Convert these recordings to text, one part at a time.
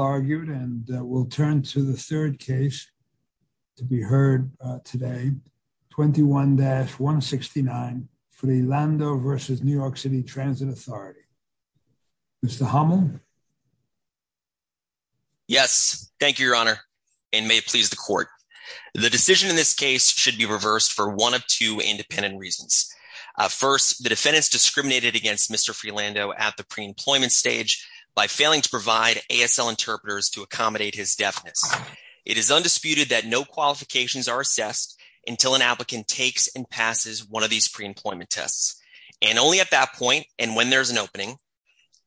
argued and we'll turn to the third case to be heard today 21-169 Frilando v. New York City Transit Authority. Mr. Hummel? Yes, thank you your honor and may it please the court. The decision in this case should be reversed for one of two independent reasons. First, the defendants discriminated against Mr. Frilando at the pre-employment stage by failing to provide ASL interpreters to accommodate his deafness. It is undisputed that no qualifications are assessed until an applicant takes and passes one of these pre-employment tests and only at that point and when there's an opening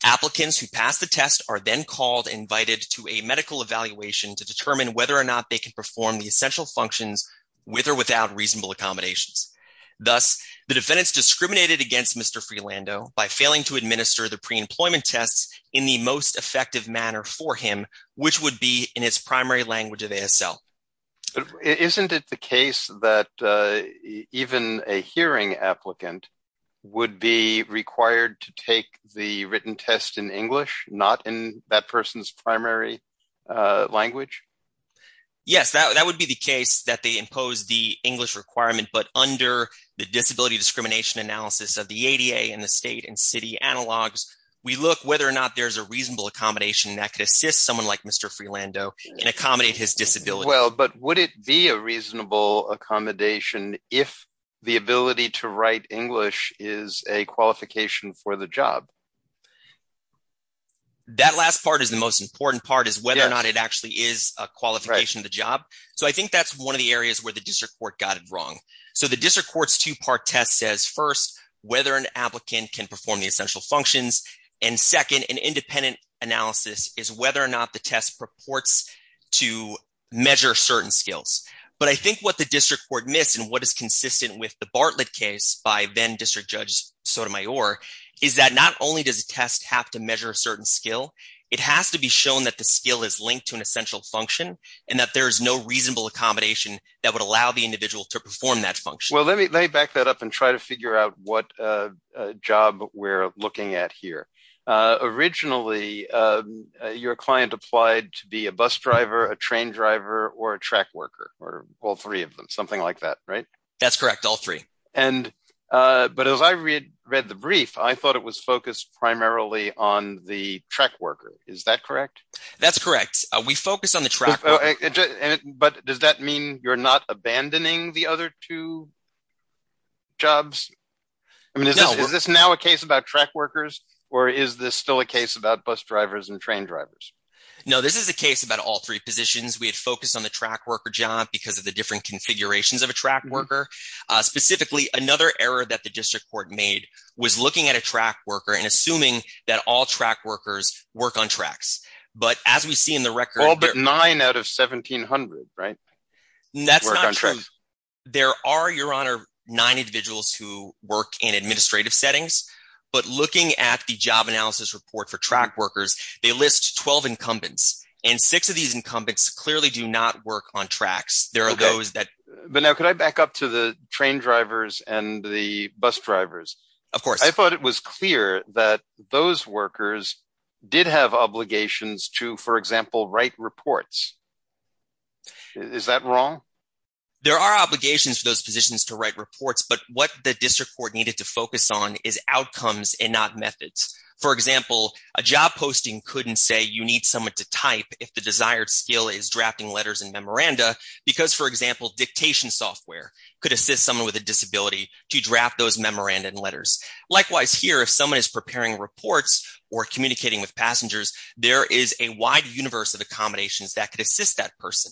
applicants who pass the test are then called invited to a medical evaluation to determine whether or not they can perform the essential functions with or without reasonable accommodations. Thus the defendants discriminated against Mr. Frilando by failing to administer the pre-employment tests in the most effective manner for him which would be in his primary language of ASL. Isn't it the case that even a hearing applicant would be required to take the written test in English not in that person's primary language? Yes, that would be the case that they impose the English requirement but under the disability discrimination analysis of ADA and the state and city analogs we look whether or not there's a reasonable accommodation that could assist someone like Mr. Frilando and accommodate his disability. Well but would it be a reasonable accommodation if the ability to write English is a qualification for the job? That last part is the most important part is whether or not it actually is a qualification of the job. So I think that's one of the areas where the district court got it wrong. So the applicant can perform the essential functions and second an independent analysis is whether or not the test purports to measure certain skills. But I think what the district court missed and what is consistent with the Bartlett case by then district judge Sotomayor is that not only does the test have to measure a certain skill it has to be shown that the skill is linked to an essential function and that there is no reasonable accommodation that would allow the individual to perform that function. Well let me back that up and try to figure out what a job we're looking at here. Originally your client applied to be a bus driver a train driver or a track worker or all three of them something like that right? That's correct all three. And but as I read the brief I thought it was focused primarily on the track worker is that correct? That's correct we focused on the track. But does that mean you're not abandoning the other two jobs? I mean is this now a case about track workers or is this still a case about bus drivers and train drivers? No this is a case about all three positions. We had focused on the track worker job because of the different configurations of a track worker. Specifically another error that the district court made was looking at a track worker and assuming that all track workers work on tracks. But as we see in the record. All but nine out of 1700 right? That's not true. There are your honor nine individuals who work in administrative settings. But looking at the job analysis report for track workers they list 12 incumbents and six of these incumbents clearly do not work on tracks. There are those that. But now could I back up to the train drivers and the bus drivers? Of course. I thought it was clear that those workers did have obligations to for example write reports. Is that wrong? There are obligations for those positions to write reports. But what the district court needed to focus on is outcomes and not methods. For example a job posting couldn't say you need someone to type if the desired skill is drafting letters and memoranda. Because for example dictation software could assist someone with a disability to draft those memoranda and letters. Likewise here if someone is preparing reports or communicating with passengers there is a wide universe of accommodations that could assist that person.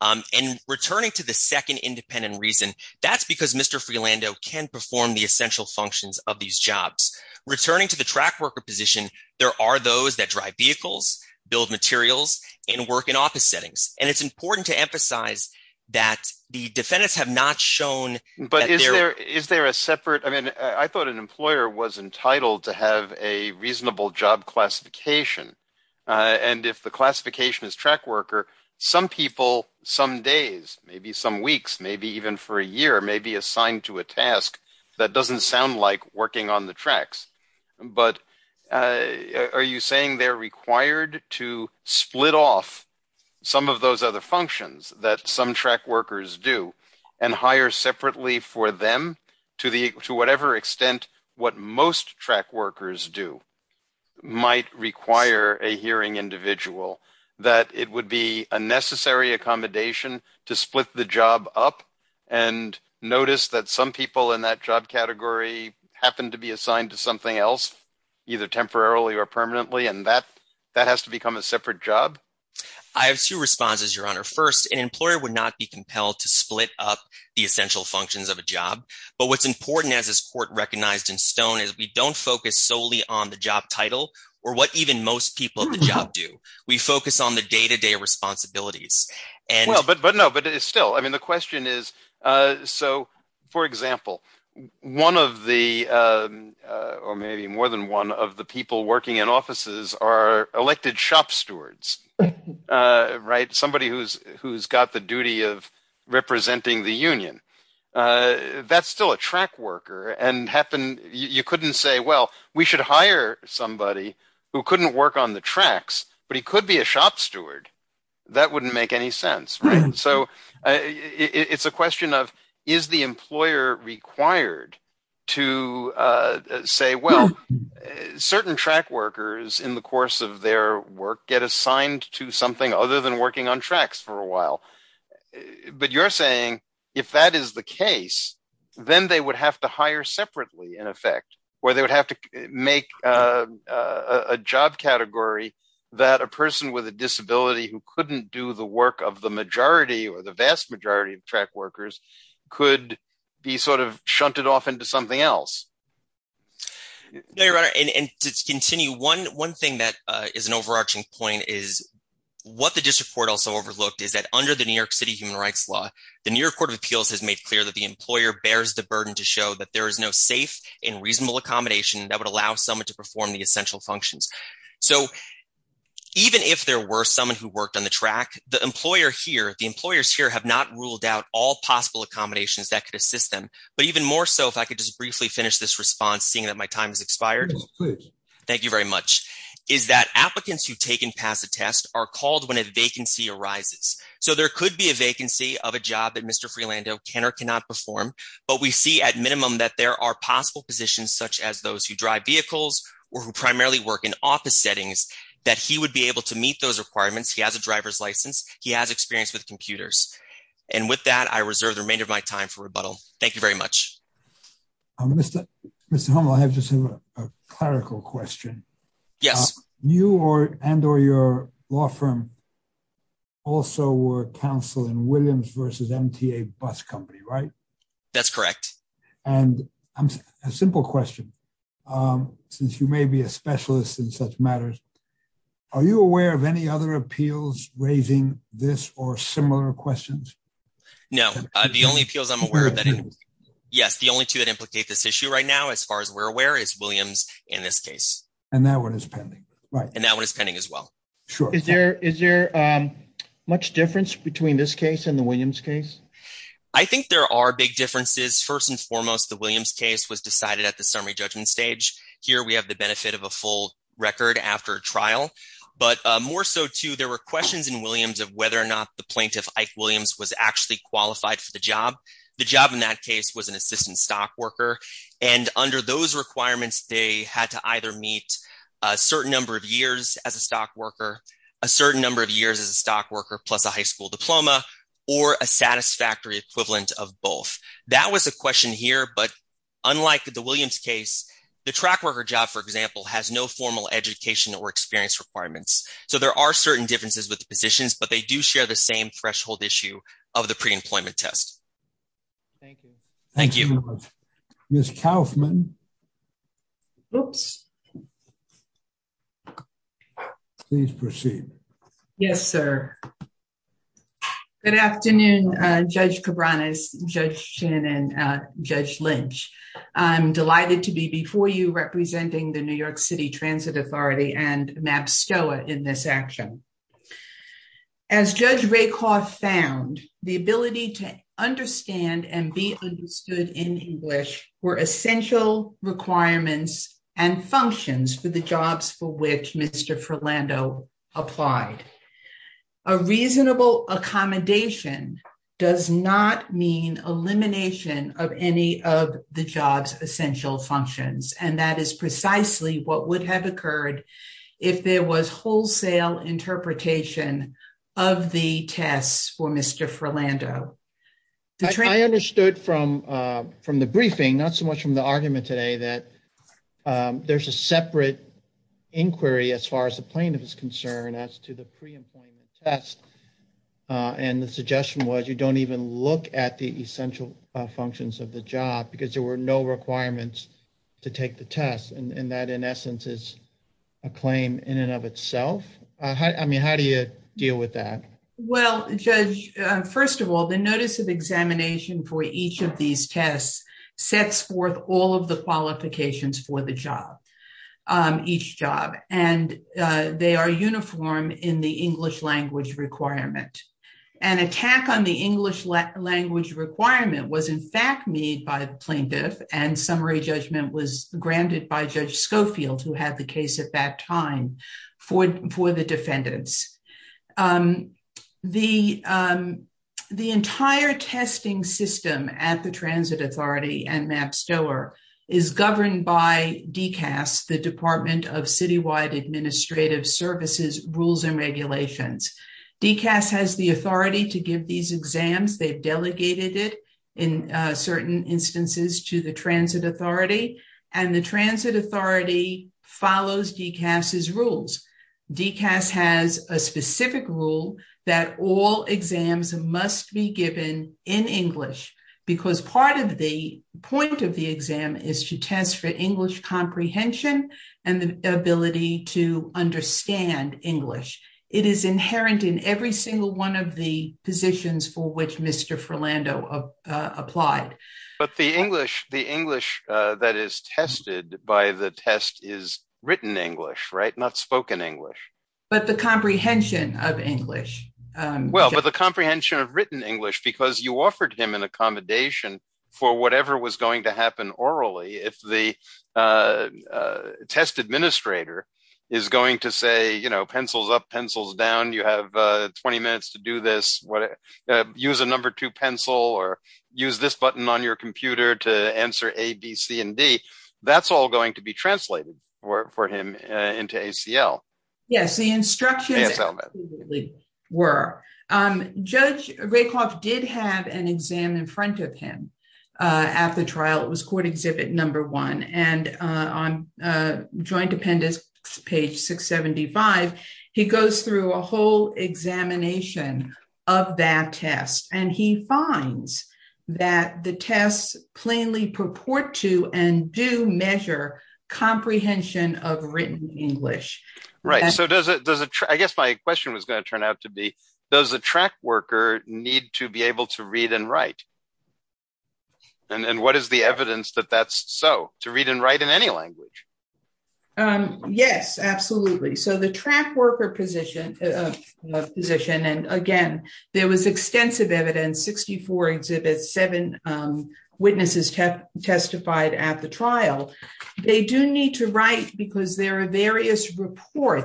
And returning to the second independent reason that's because Mr. Freelando can perform the essential functions of these jobs. Returning to the track worker position there are those that drive vehicles, build materials, and work in office settings. And it's important to emphasize that the defendants have not shown. But is there is there a separate I mean I thought an employer was entitled to have a reasonable job classification. And if the classification is track worker some people some days maybe some weeks maybe even for a year may be assigned to a task that doesn't sound like working on the tracks. But are you saying they're required to split off some of those other functions that some track workers do and hire separately for them to the to whatever extent what most track workers do might require a hearing individual that it would be a necessary accommodation to split the job up and notice that some people in that job category happen to be assigned to something else either temporarily or permanently and that that has to respond as your honor first an employer would not be compelled to split up the essential functions of a job but what's important as this court recognized in stone is we don't focus solely on the job title or what even most people in the job do we focus on the day-to-day responsibilities and well but but no but it's still I mean the question is uh so for example one of the uh of the people working in offices are elected shop stewards uh right somebody who's who's got the duty of representing the union uh that's still a track worker and happened you couldn't say well we should hire somebody who couldn't work on the tracks but he could be a shop steward that wouldn't make any right so it's a question of is the employer required to uh say well certain track workers in the course of their work get assigned to something other than working on tracks for a while but you're saying if that is the case then they would have to hire separately in effect where they would have to make a a job category that a person with a disability who couldn't do the work of the majority or the vast majority of track workers could be sort of shunted off into something else no your honor and to continue one one thing that uh is an overarching point is what the district court also overlooked is that under the new york city human rights law the new york court of appeals has made clear that the employer bears the burden to show that there is no safe and reasonable accommodation that would allow someone to perform the essential functions so even if there were someone who worked on the track the employer here the employers here have not ruled out all possible accommodations that could assist them but even more so if i could just briefly finish this response seeing that my time has expired thank you very much is that applicants who've taken past the test are called when a vacancy arises so there could be a vacancy of a job that mr freelando can or cannot perform but we see at minimum that there are possible positions such as those who drive vehicles or who primarily work in office settings that he would be able to meet those requirements he has a driver's license he has experience with computers and with that i reserve the remainder of my time for rebuttal thank you very much um mr mr hummel i have just a clerical question yes you or and or your law firm also were counsel in williams versus mta bus company right that's correct and i'm a simple question um since you may be a specialist in such matters are you aware of any other appeals raising this or similar questions no uh the only appeals i'm aware of that yes the only two that implicate this issue right now as far as we're aware is williams in this case and that one is pending right and that one is pending as well sure is there is there um much difference between this case and the williams case i think there are big differences first and foremost the williams case was decided at the summary judgment stage here we have the benefit of a full record after a trial but uh more so too there were questions in williams of whether or not the plaintiff ike williams was actually qualified for the job the job in that case was an assistant stock worker and under those requirements they had to either meet a certain number of years as a stock worker a certain number of years as a stock worker plus a high school diploma or a satisfactory equivalent of both that was a question here but unlike the williams case the track worker job for example has no formal education or experience requirements so there are certain differences with the positions but they do share the same threshold issue of the pre-employment test thank you thank you miss kaufman oops please proceed yes sir good afternoon uh judge cabranas judge shannon uh judge lynch i'm delighted to be before you representing the new york city transit authority and map stoa in this action as judge rakoff found the ability to understand and be understood in english were essential requirements and functions for the jobs for which mr ferlando applied a reasonable accommodation does not mean elimination of any of the job's essential functions and that is precisely what would have occurred if there was wholesale interpretation of the tests for mr ferlando i understood from uh from the briefing not so much from the argument today that there's a separate inquiry as far as the plaintiff is concerned as to the pre-employment test and the suggestion was you don't even look at the essential functions of the job because there were no requirements to take the test and that in essence is a claim in and of itself i mean how do you deal with that well judge first of all the notice of examination for each of these tests sets forth all of the qualifications for the job each job and they are uniform in the english language requirement an attack on the english language requirement was in fact made by the plaintiff and summary judgment was granted by judge scoffield who had the case at that time for for the defendants um the um the entire testing system at the transit authority and map storer is governed by dcas the department of citywide administrative services rules and regulations dcas has the authority to give these exams they've delegated it in certain instances to the transit authority and the transit authority follows dcas's rules dcas has a specific rule that all exams must be given in english because part of the point of the exam is to test for english comprehension and the ability to understand english it is inherent in every single one of the positions for which mr frilando applied but the english the english uh that is tested by the test is written english right not spoken english but the comprehension of english um well but the comprehension of written english because you offered him an accommodation for whatever was test administrator is going to say you know pencils up pencils down you have uh 20 minutes to do this whatever use a number two pencil or use this button on your computer to answer a b c and d that's all going to be translated for him into acl yes the instructions were um judge did have an exam in front of him uh at the trial it was court exhibit number one and uh on uh joint appendix page 675 he goes through a whole examination of that test and he finds that the tests plainly purport to and do measure comprehension of written english right so does does it i guess my question was going to turn out to be does a track worker need to be able to read and write and and what is the evidence that that's so to read and write in any language um yes absolutely so the track worker position uh position and again there was extensive evidence 64 exhibits seven um witnesses testified at the trial they do need to write because there are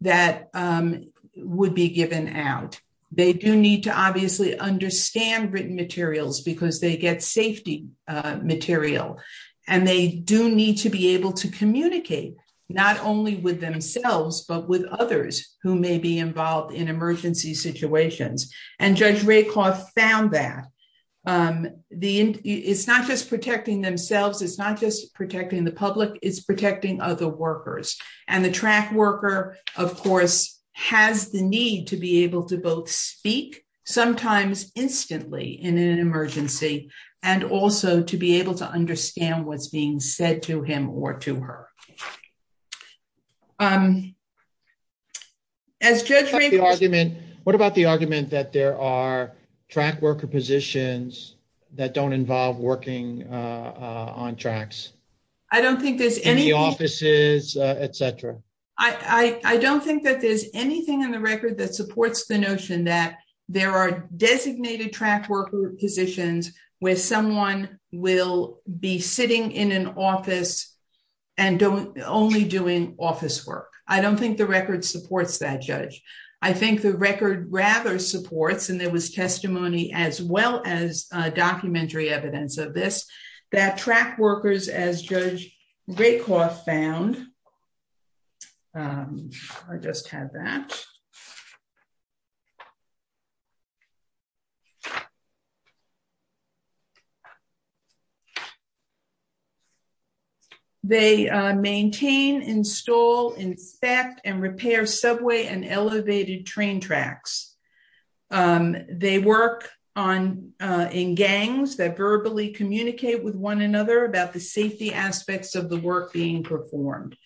that um would be given out they do need to obviously understand written materials because they get safety uh material and they do need to be able to communicate not only with themselves but with others who may be involved in emergency situations and judge ray cloth found that um the it's not just protecting themselves it's not just protecting the public it's protecting other workers and the track worker of course has the need to be able to both speak sometimes instantly in an emergency and also to be able to understand what's being said to him or to her um as judge the argument what about the argument that there are track worker positions that don't uh etc i i don't think that there's anything in the record that supports the notion that there are designated track worker positions where someone will be sitting in an office and don't only doing office work i don't think the record supports that judge i think the record rather supports and there was testimony as well as uh documentary evidence of this that track workers as judge ray cloth found um i just had that they uh maintain install inspect and repair subway and elevated train tracks um they work on uh in gangs that verbally communicate with one another about the safety aspects of the work being performed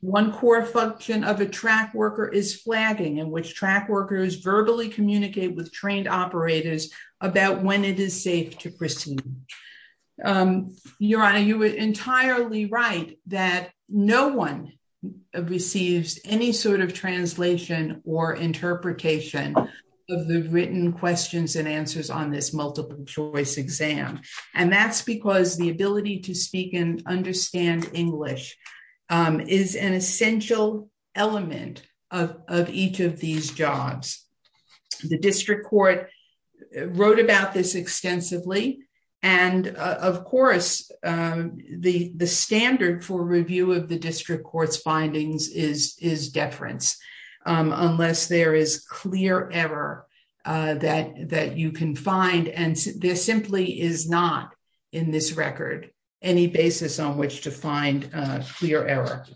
one core function of a track worker is flagging in which track workers verbally communicate with trained operators about when it is safe to proceed um your honor you were entirely right that no one receives any sort of translation or interpretation of the written questions and answers on this multiple choice exam and that's because the ability to speak and understand english um is an essential element of of each of these jobs the district court wrote about this extensively and of course um the the standard for review of the district court's findings is is deference unless there is clear error uh that that you can find and there simply is not in this record any basis on which to find a clear error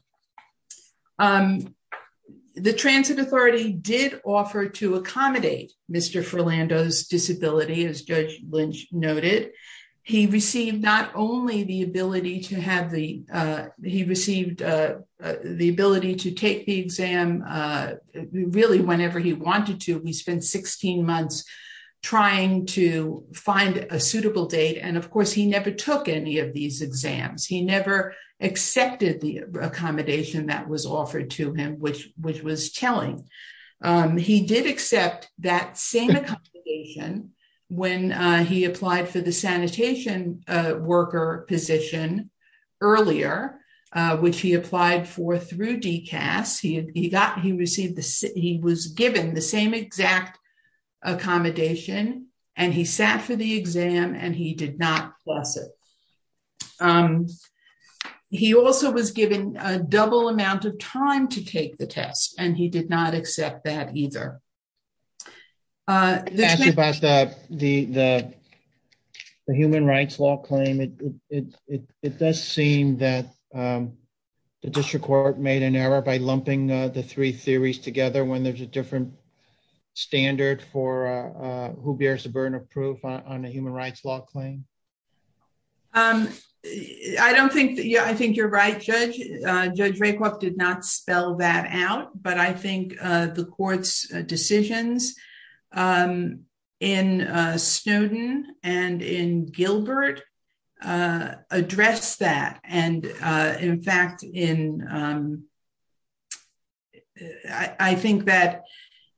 um the transit authority did offer to accommodate mr ferlando's disability as judge lynch noted he received not only the ability to have the uh he received uh the ability to take the exam uh really whenever he wanted to we spent 16 months trying to find a suitable date and of course he never took any of these exams he never accepted the accommodation that was offered to him which which was telling um he did accept that same accommodation when he applied for the sanitation worker position earlier which he applied for through dcas he got he received the he was given the same exact accommodation and he sat for the exam and he did not pass it um he also was given a double amount of time to take the test and he did not accept that either uh the human rights law claim it it it does seem that um the district court made an error by lumping the three theories together when there's a different standard for uh who bears a burden of judge raycliffe did not spell that out but i think uh the court's decisions um in uh snowden and in gilbert uh address that and uh in fact in um i i think that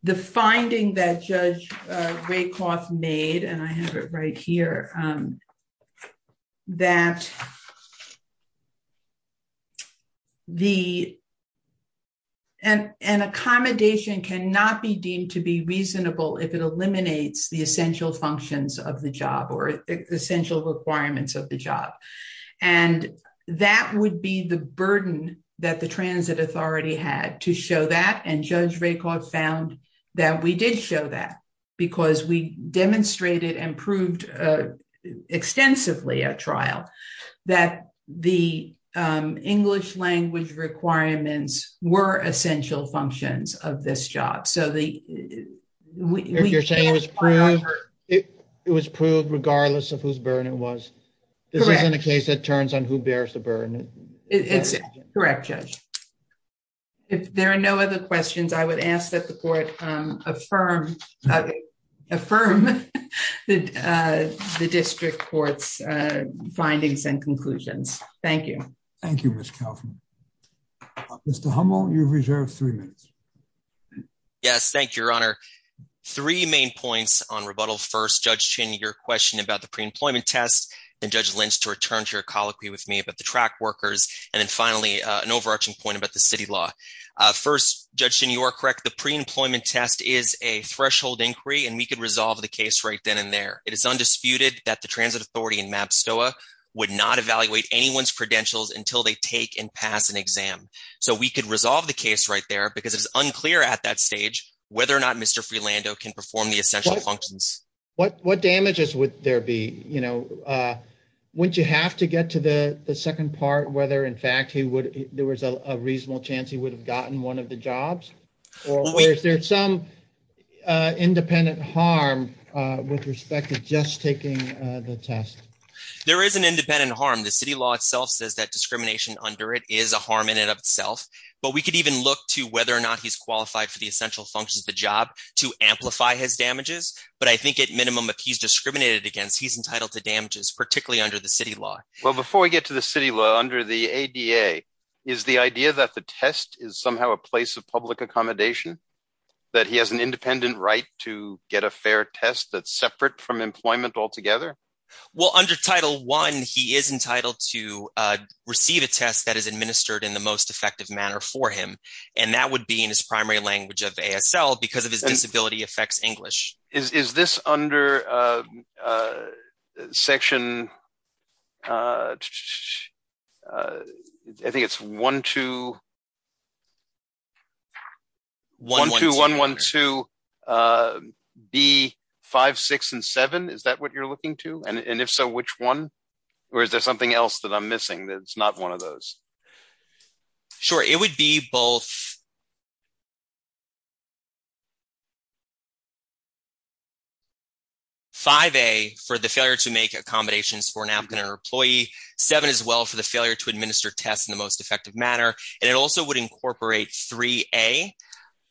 the finding that judge uh raycliffe made and i have it right here um that the and an accommodation cannot be deemed to be reasonable if it eliminates the essential functions of the job or essential requirements of the job and that would be the burden that the transit authority had to show that and judge raycliffe found that we did show that because we demonstrated and proved extensively at trial that the um english language requirements were essential functions of this job so the you're saying it was proved it was proved regardless of whose burden it was this isn't a case that turns on who bears the burden it's correct judge if affirm the uh the district court's uh findings and conclusions thank you thank you miss calvin mr hummel you reserve three minutes yes thank you your honor three main points on rebuttal first judge chin your question about the pre-employment test and judge lynch to return to your colloquy with me about the track workers and then finally an overarching point about the city law uh first judging you are correct the pre-employment test is a threshold inquiry and we could resolve the case right then and there it is undisputed that the transit authority in map stoa would not evaluate anyone's credentials until they take and pass an exam so we could resolve the case right there because it's unclear at that stage whether or not mr freelando can perform the essential functions what what damages would there be you know uh wouldn't you have to get to the the second part whether in fact he would there was a reasonable chance he would have gotten one of the jobs or is there some uh independent harm uh with respect to just taking the test there is an independent harm the city law itself says that discrimination under it is a harm in and of itself but we could even look to whether or not he's qualified for the essential functions of the job to amplify his damages but i think at minimum if he's discriminated against he's entitled to the ada is the idea that the test is somehow a place of public accommodation that he has an independent right to get a fair test that's separate from employment altogether well under title one he is entitled to uh receive a test that is administered in the most effective manner for him and that would be in his primary language of asl because of his disability affects english is is this under uh uh section uh uh i think it's one two one two one one two uh b five six and seven is that what you're looking to and and if so which one or is there something else that i'm missing that's not one of those sure it would be both five a for the failure to make accommodations for an applicant or employee seven as well for the failure to administer tests in the most effective manner and it also would incorporate 3a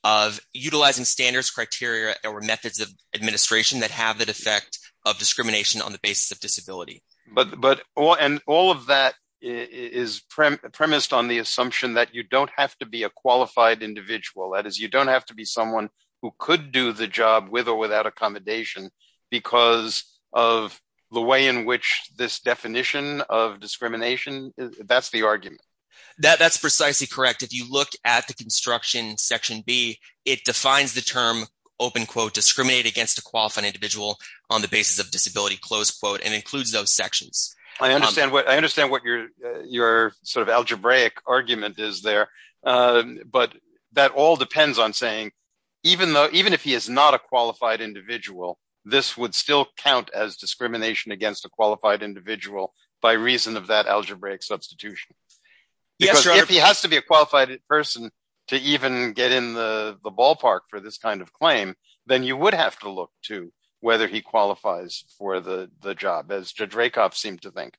of utilizing standards criteria or methods of administration that have the defect of discrimination on the basis of disability but but and all of that is premised on the assumption that you don't have to be a qualified individual that is you don't have to be someone who could do the accommodation because of the way in which this definition of discrimination that's the argument that that's precisely correct if you look at the construction section b it defines the term open quote discriminate against a qualified individual on the basis of disability close quote and includes those sections i understand what i understand what your your sort of algebraic this would still count as discrimination against a qualified individual by reason of that algebraic substitution because if he has to be a qualified person to even get in the the ballpark for this kind of claim then you would have to look to whether he qualifies for the the job as judge rakoff seemed to think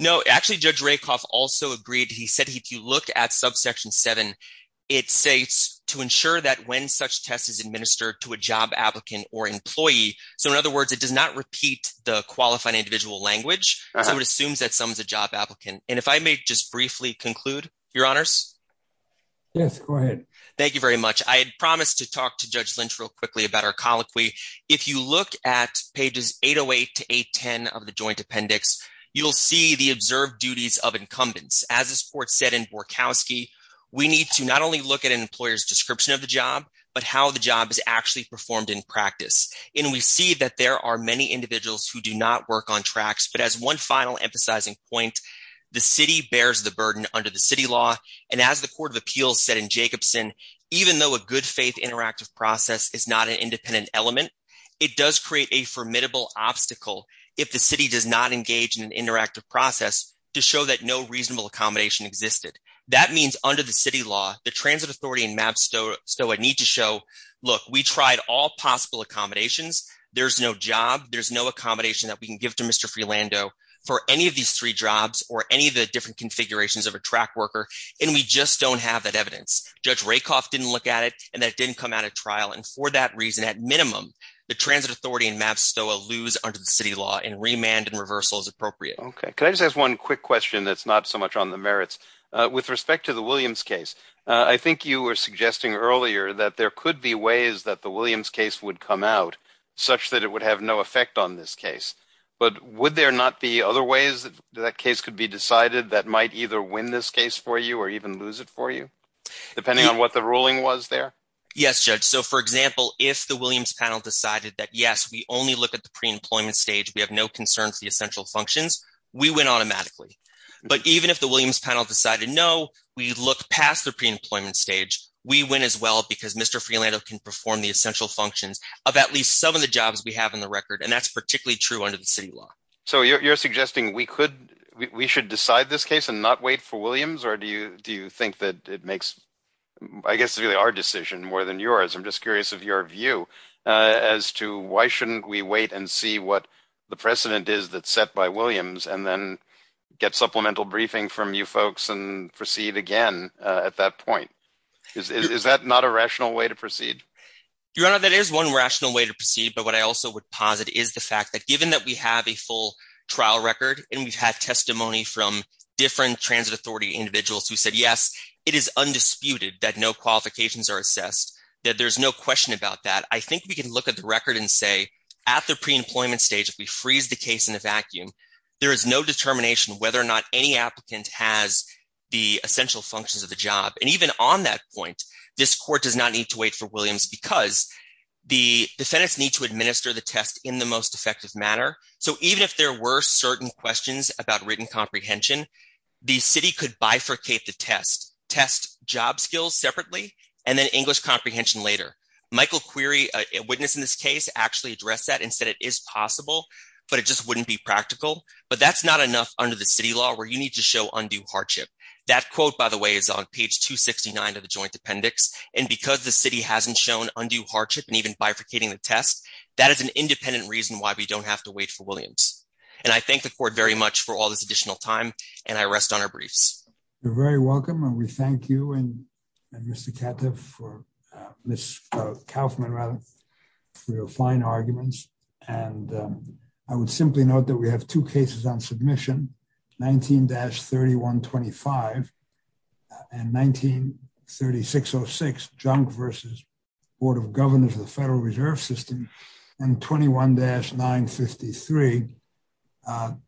no actually judge rakoff also agreed he said if you look at subsection 7 it states to ensure that when such test is administered to a job applicant or employee so in other words it does not repeat the qualifying individual language so it assumes that someone's a job applicant and if i may just briefly conclude your honors yes go ahead thank you very much i had promised to talk to judge lynch real quickly about our colloquy if you look at pages 808 to 810 of the joint appendix you'll see the observed duties of incumbents as this in borkowski we need to not only look at an employer's description of the job but how the job is actually performed in practice and we see that there are many individuals who do not work on tracks but as one final emphasizing point the city bears the burden under the city law and as the court of appeals said in jacobson even though a good faith interactive process is not an independent element it does create a formidable obstacle if the city does not engage in an interactive process to show that no reasonable accommodation existed that means under the city law the transit authority and map stowa need to show look we tried all possible accommodations there's no job there's no accommodation that we can give to mr freelando for any of these three jobs or any of the different configurations of a track worker and we just don't have that evidence judge rakoff didn't look at it and that didn't come out of trial and for that reason at minimum the transit authority and maps city law and remand and reversal is appropriate okay can i just ask one quick question that's not so much on the merits uh with respect to the williams case i think you were suggesting earlier that there could be ways that the williams case would come out such that it would have no effect on this case but would there not be other ways that case could be decided that might either win this case for you or even lose it for you depending on what the ruling was there yes judge so for example if the williams panel decided that yes we only look at the pre-employment stage we have no concern for the essential functions we went automatically but even if the williams panel decided no we look past the pre-employment stage we win as well because mr freelando can perform the essential functions of at least some of the jobs we have in the record and that's particularly true under the city law so you're suggesting we could we should decide this case and not wait for williams or do you do you think that it makes i guess really our decision more than yours i'm curious of your view as to why shouldn't we wait and see what the precedent is that's set by williams and then get supplemental briefing from you folks and proceed again at that point is that not a rational way to proceed your honor that is one rational way to proceed but what i also would posit is the fact that given that we have a full trial record and we've had testimony from different transit authority individuals who said yes it is undisputed that no qualifications are assessed that there's no question about that i think we can look at the record and say at the pre-employment stage if we freeze the case in a vacuum there is no determination whether or not any applicant has the essential functions of the job and even on that point this court does not need to wait for williams because the defendants need to administer the test in the most effective manner so even if there were certain questions about written comprehension the city could bifurcate the test job skills separately and then english comprehension later michael query a witness in this case actually addressed that and said it is possible but it just wouldn't be practical but that's not enough under the city law where you need to show undue hardship that quote by the way is on page 269 of the joint appendix and because the city hasn't shown undue hardship and even bifurcating the test that is an independent reason why we don't have to wait for williams and i thank the court very much for all this additional time and i rest on our briefs you're thank you and mr katev for uh miss kaufman rather for your fine arguments and i would simply note that we have two cases on submission 19-31 25 and 1930 606 junk versus board of governors of the federal reserve system and 21-953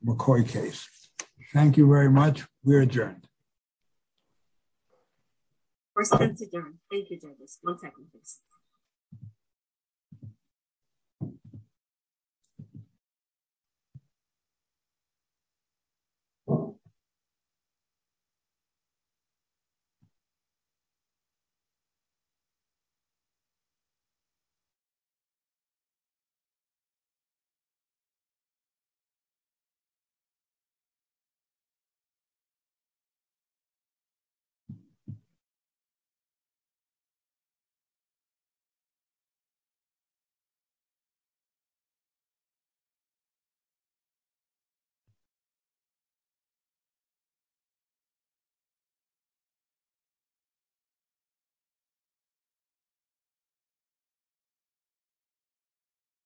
mccoy case thank you very much we're adjourned we're sent to john thank you douglas one second please you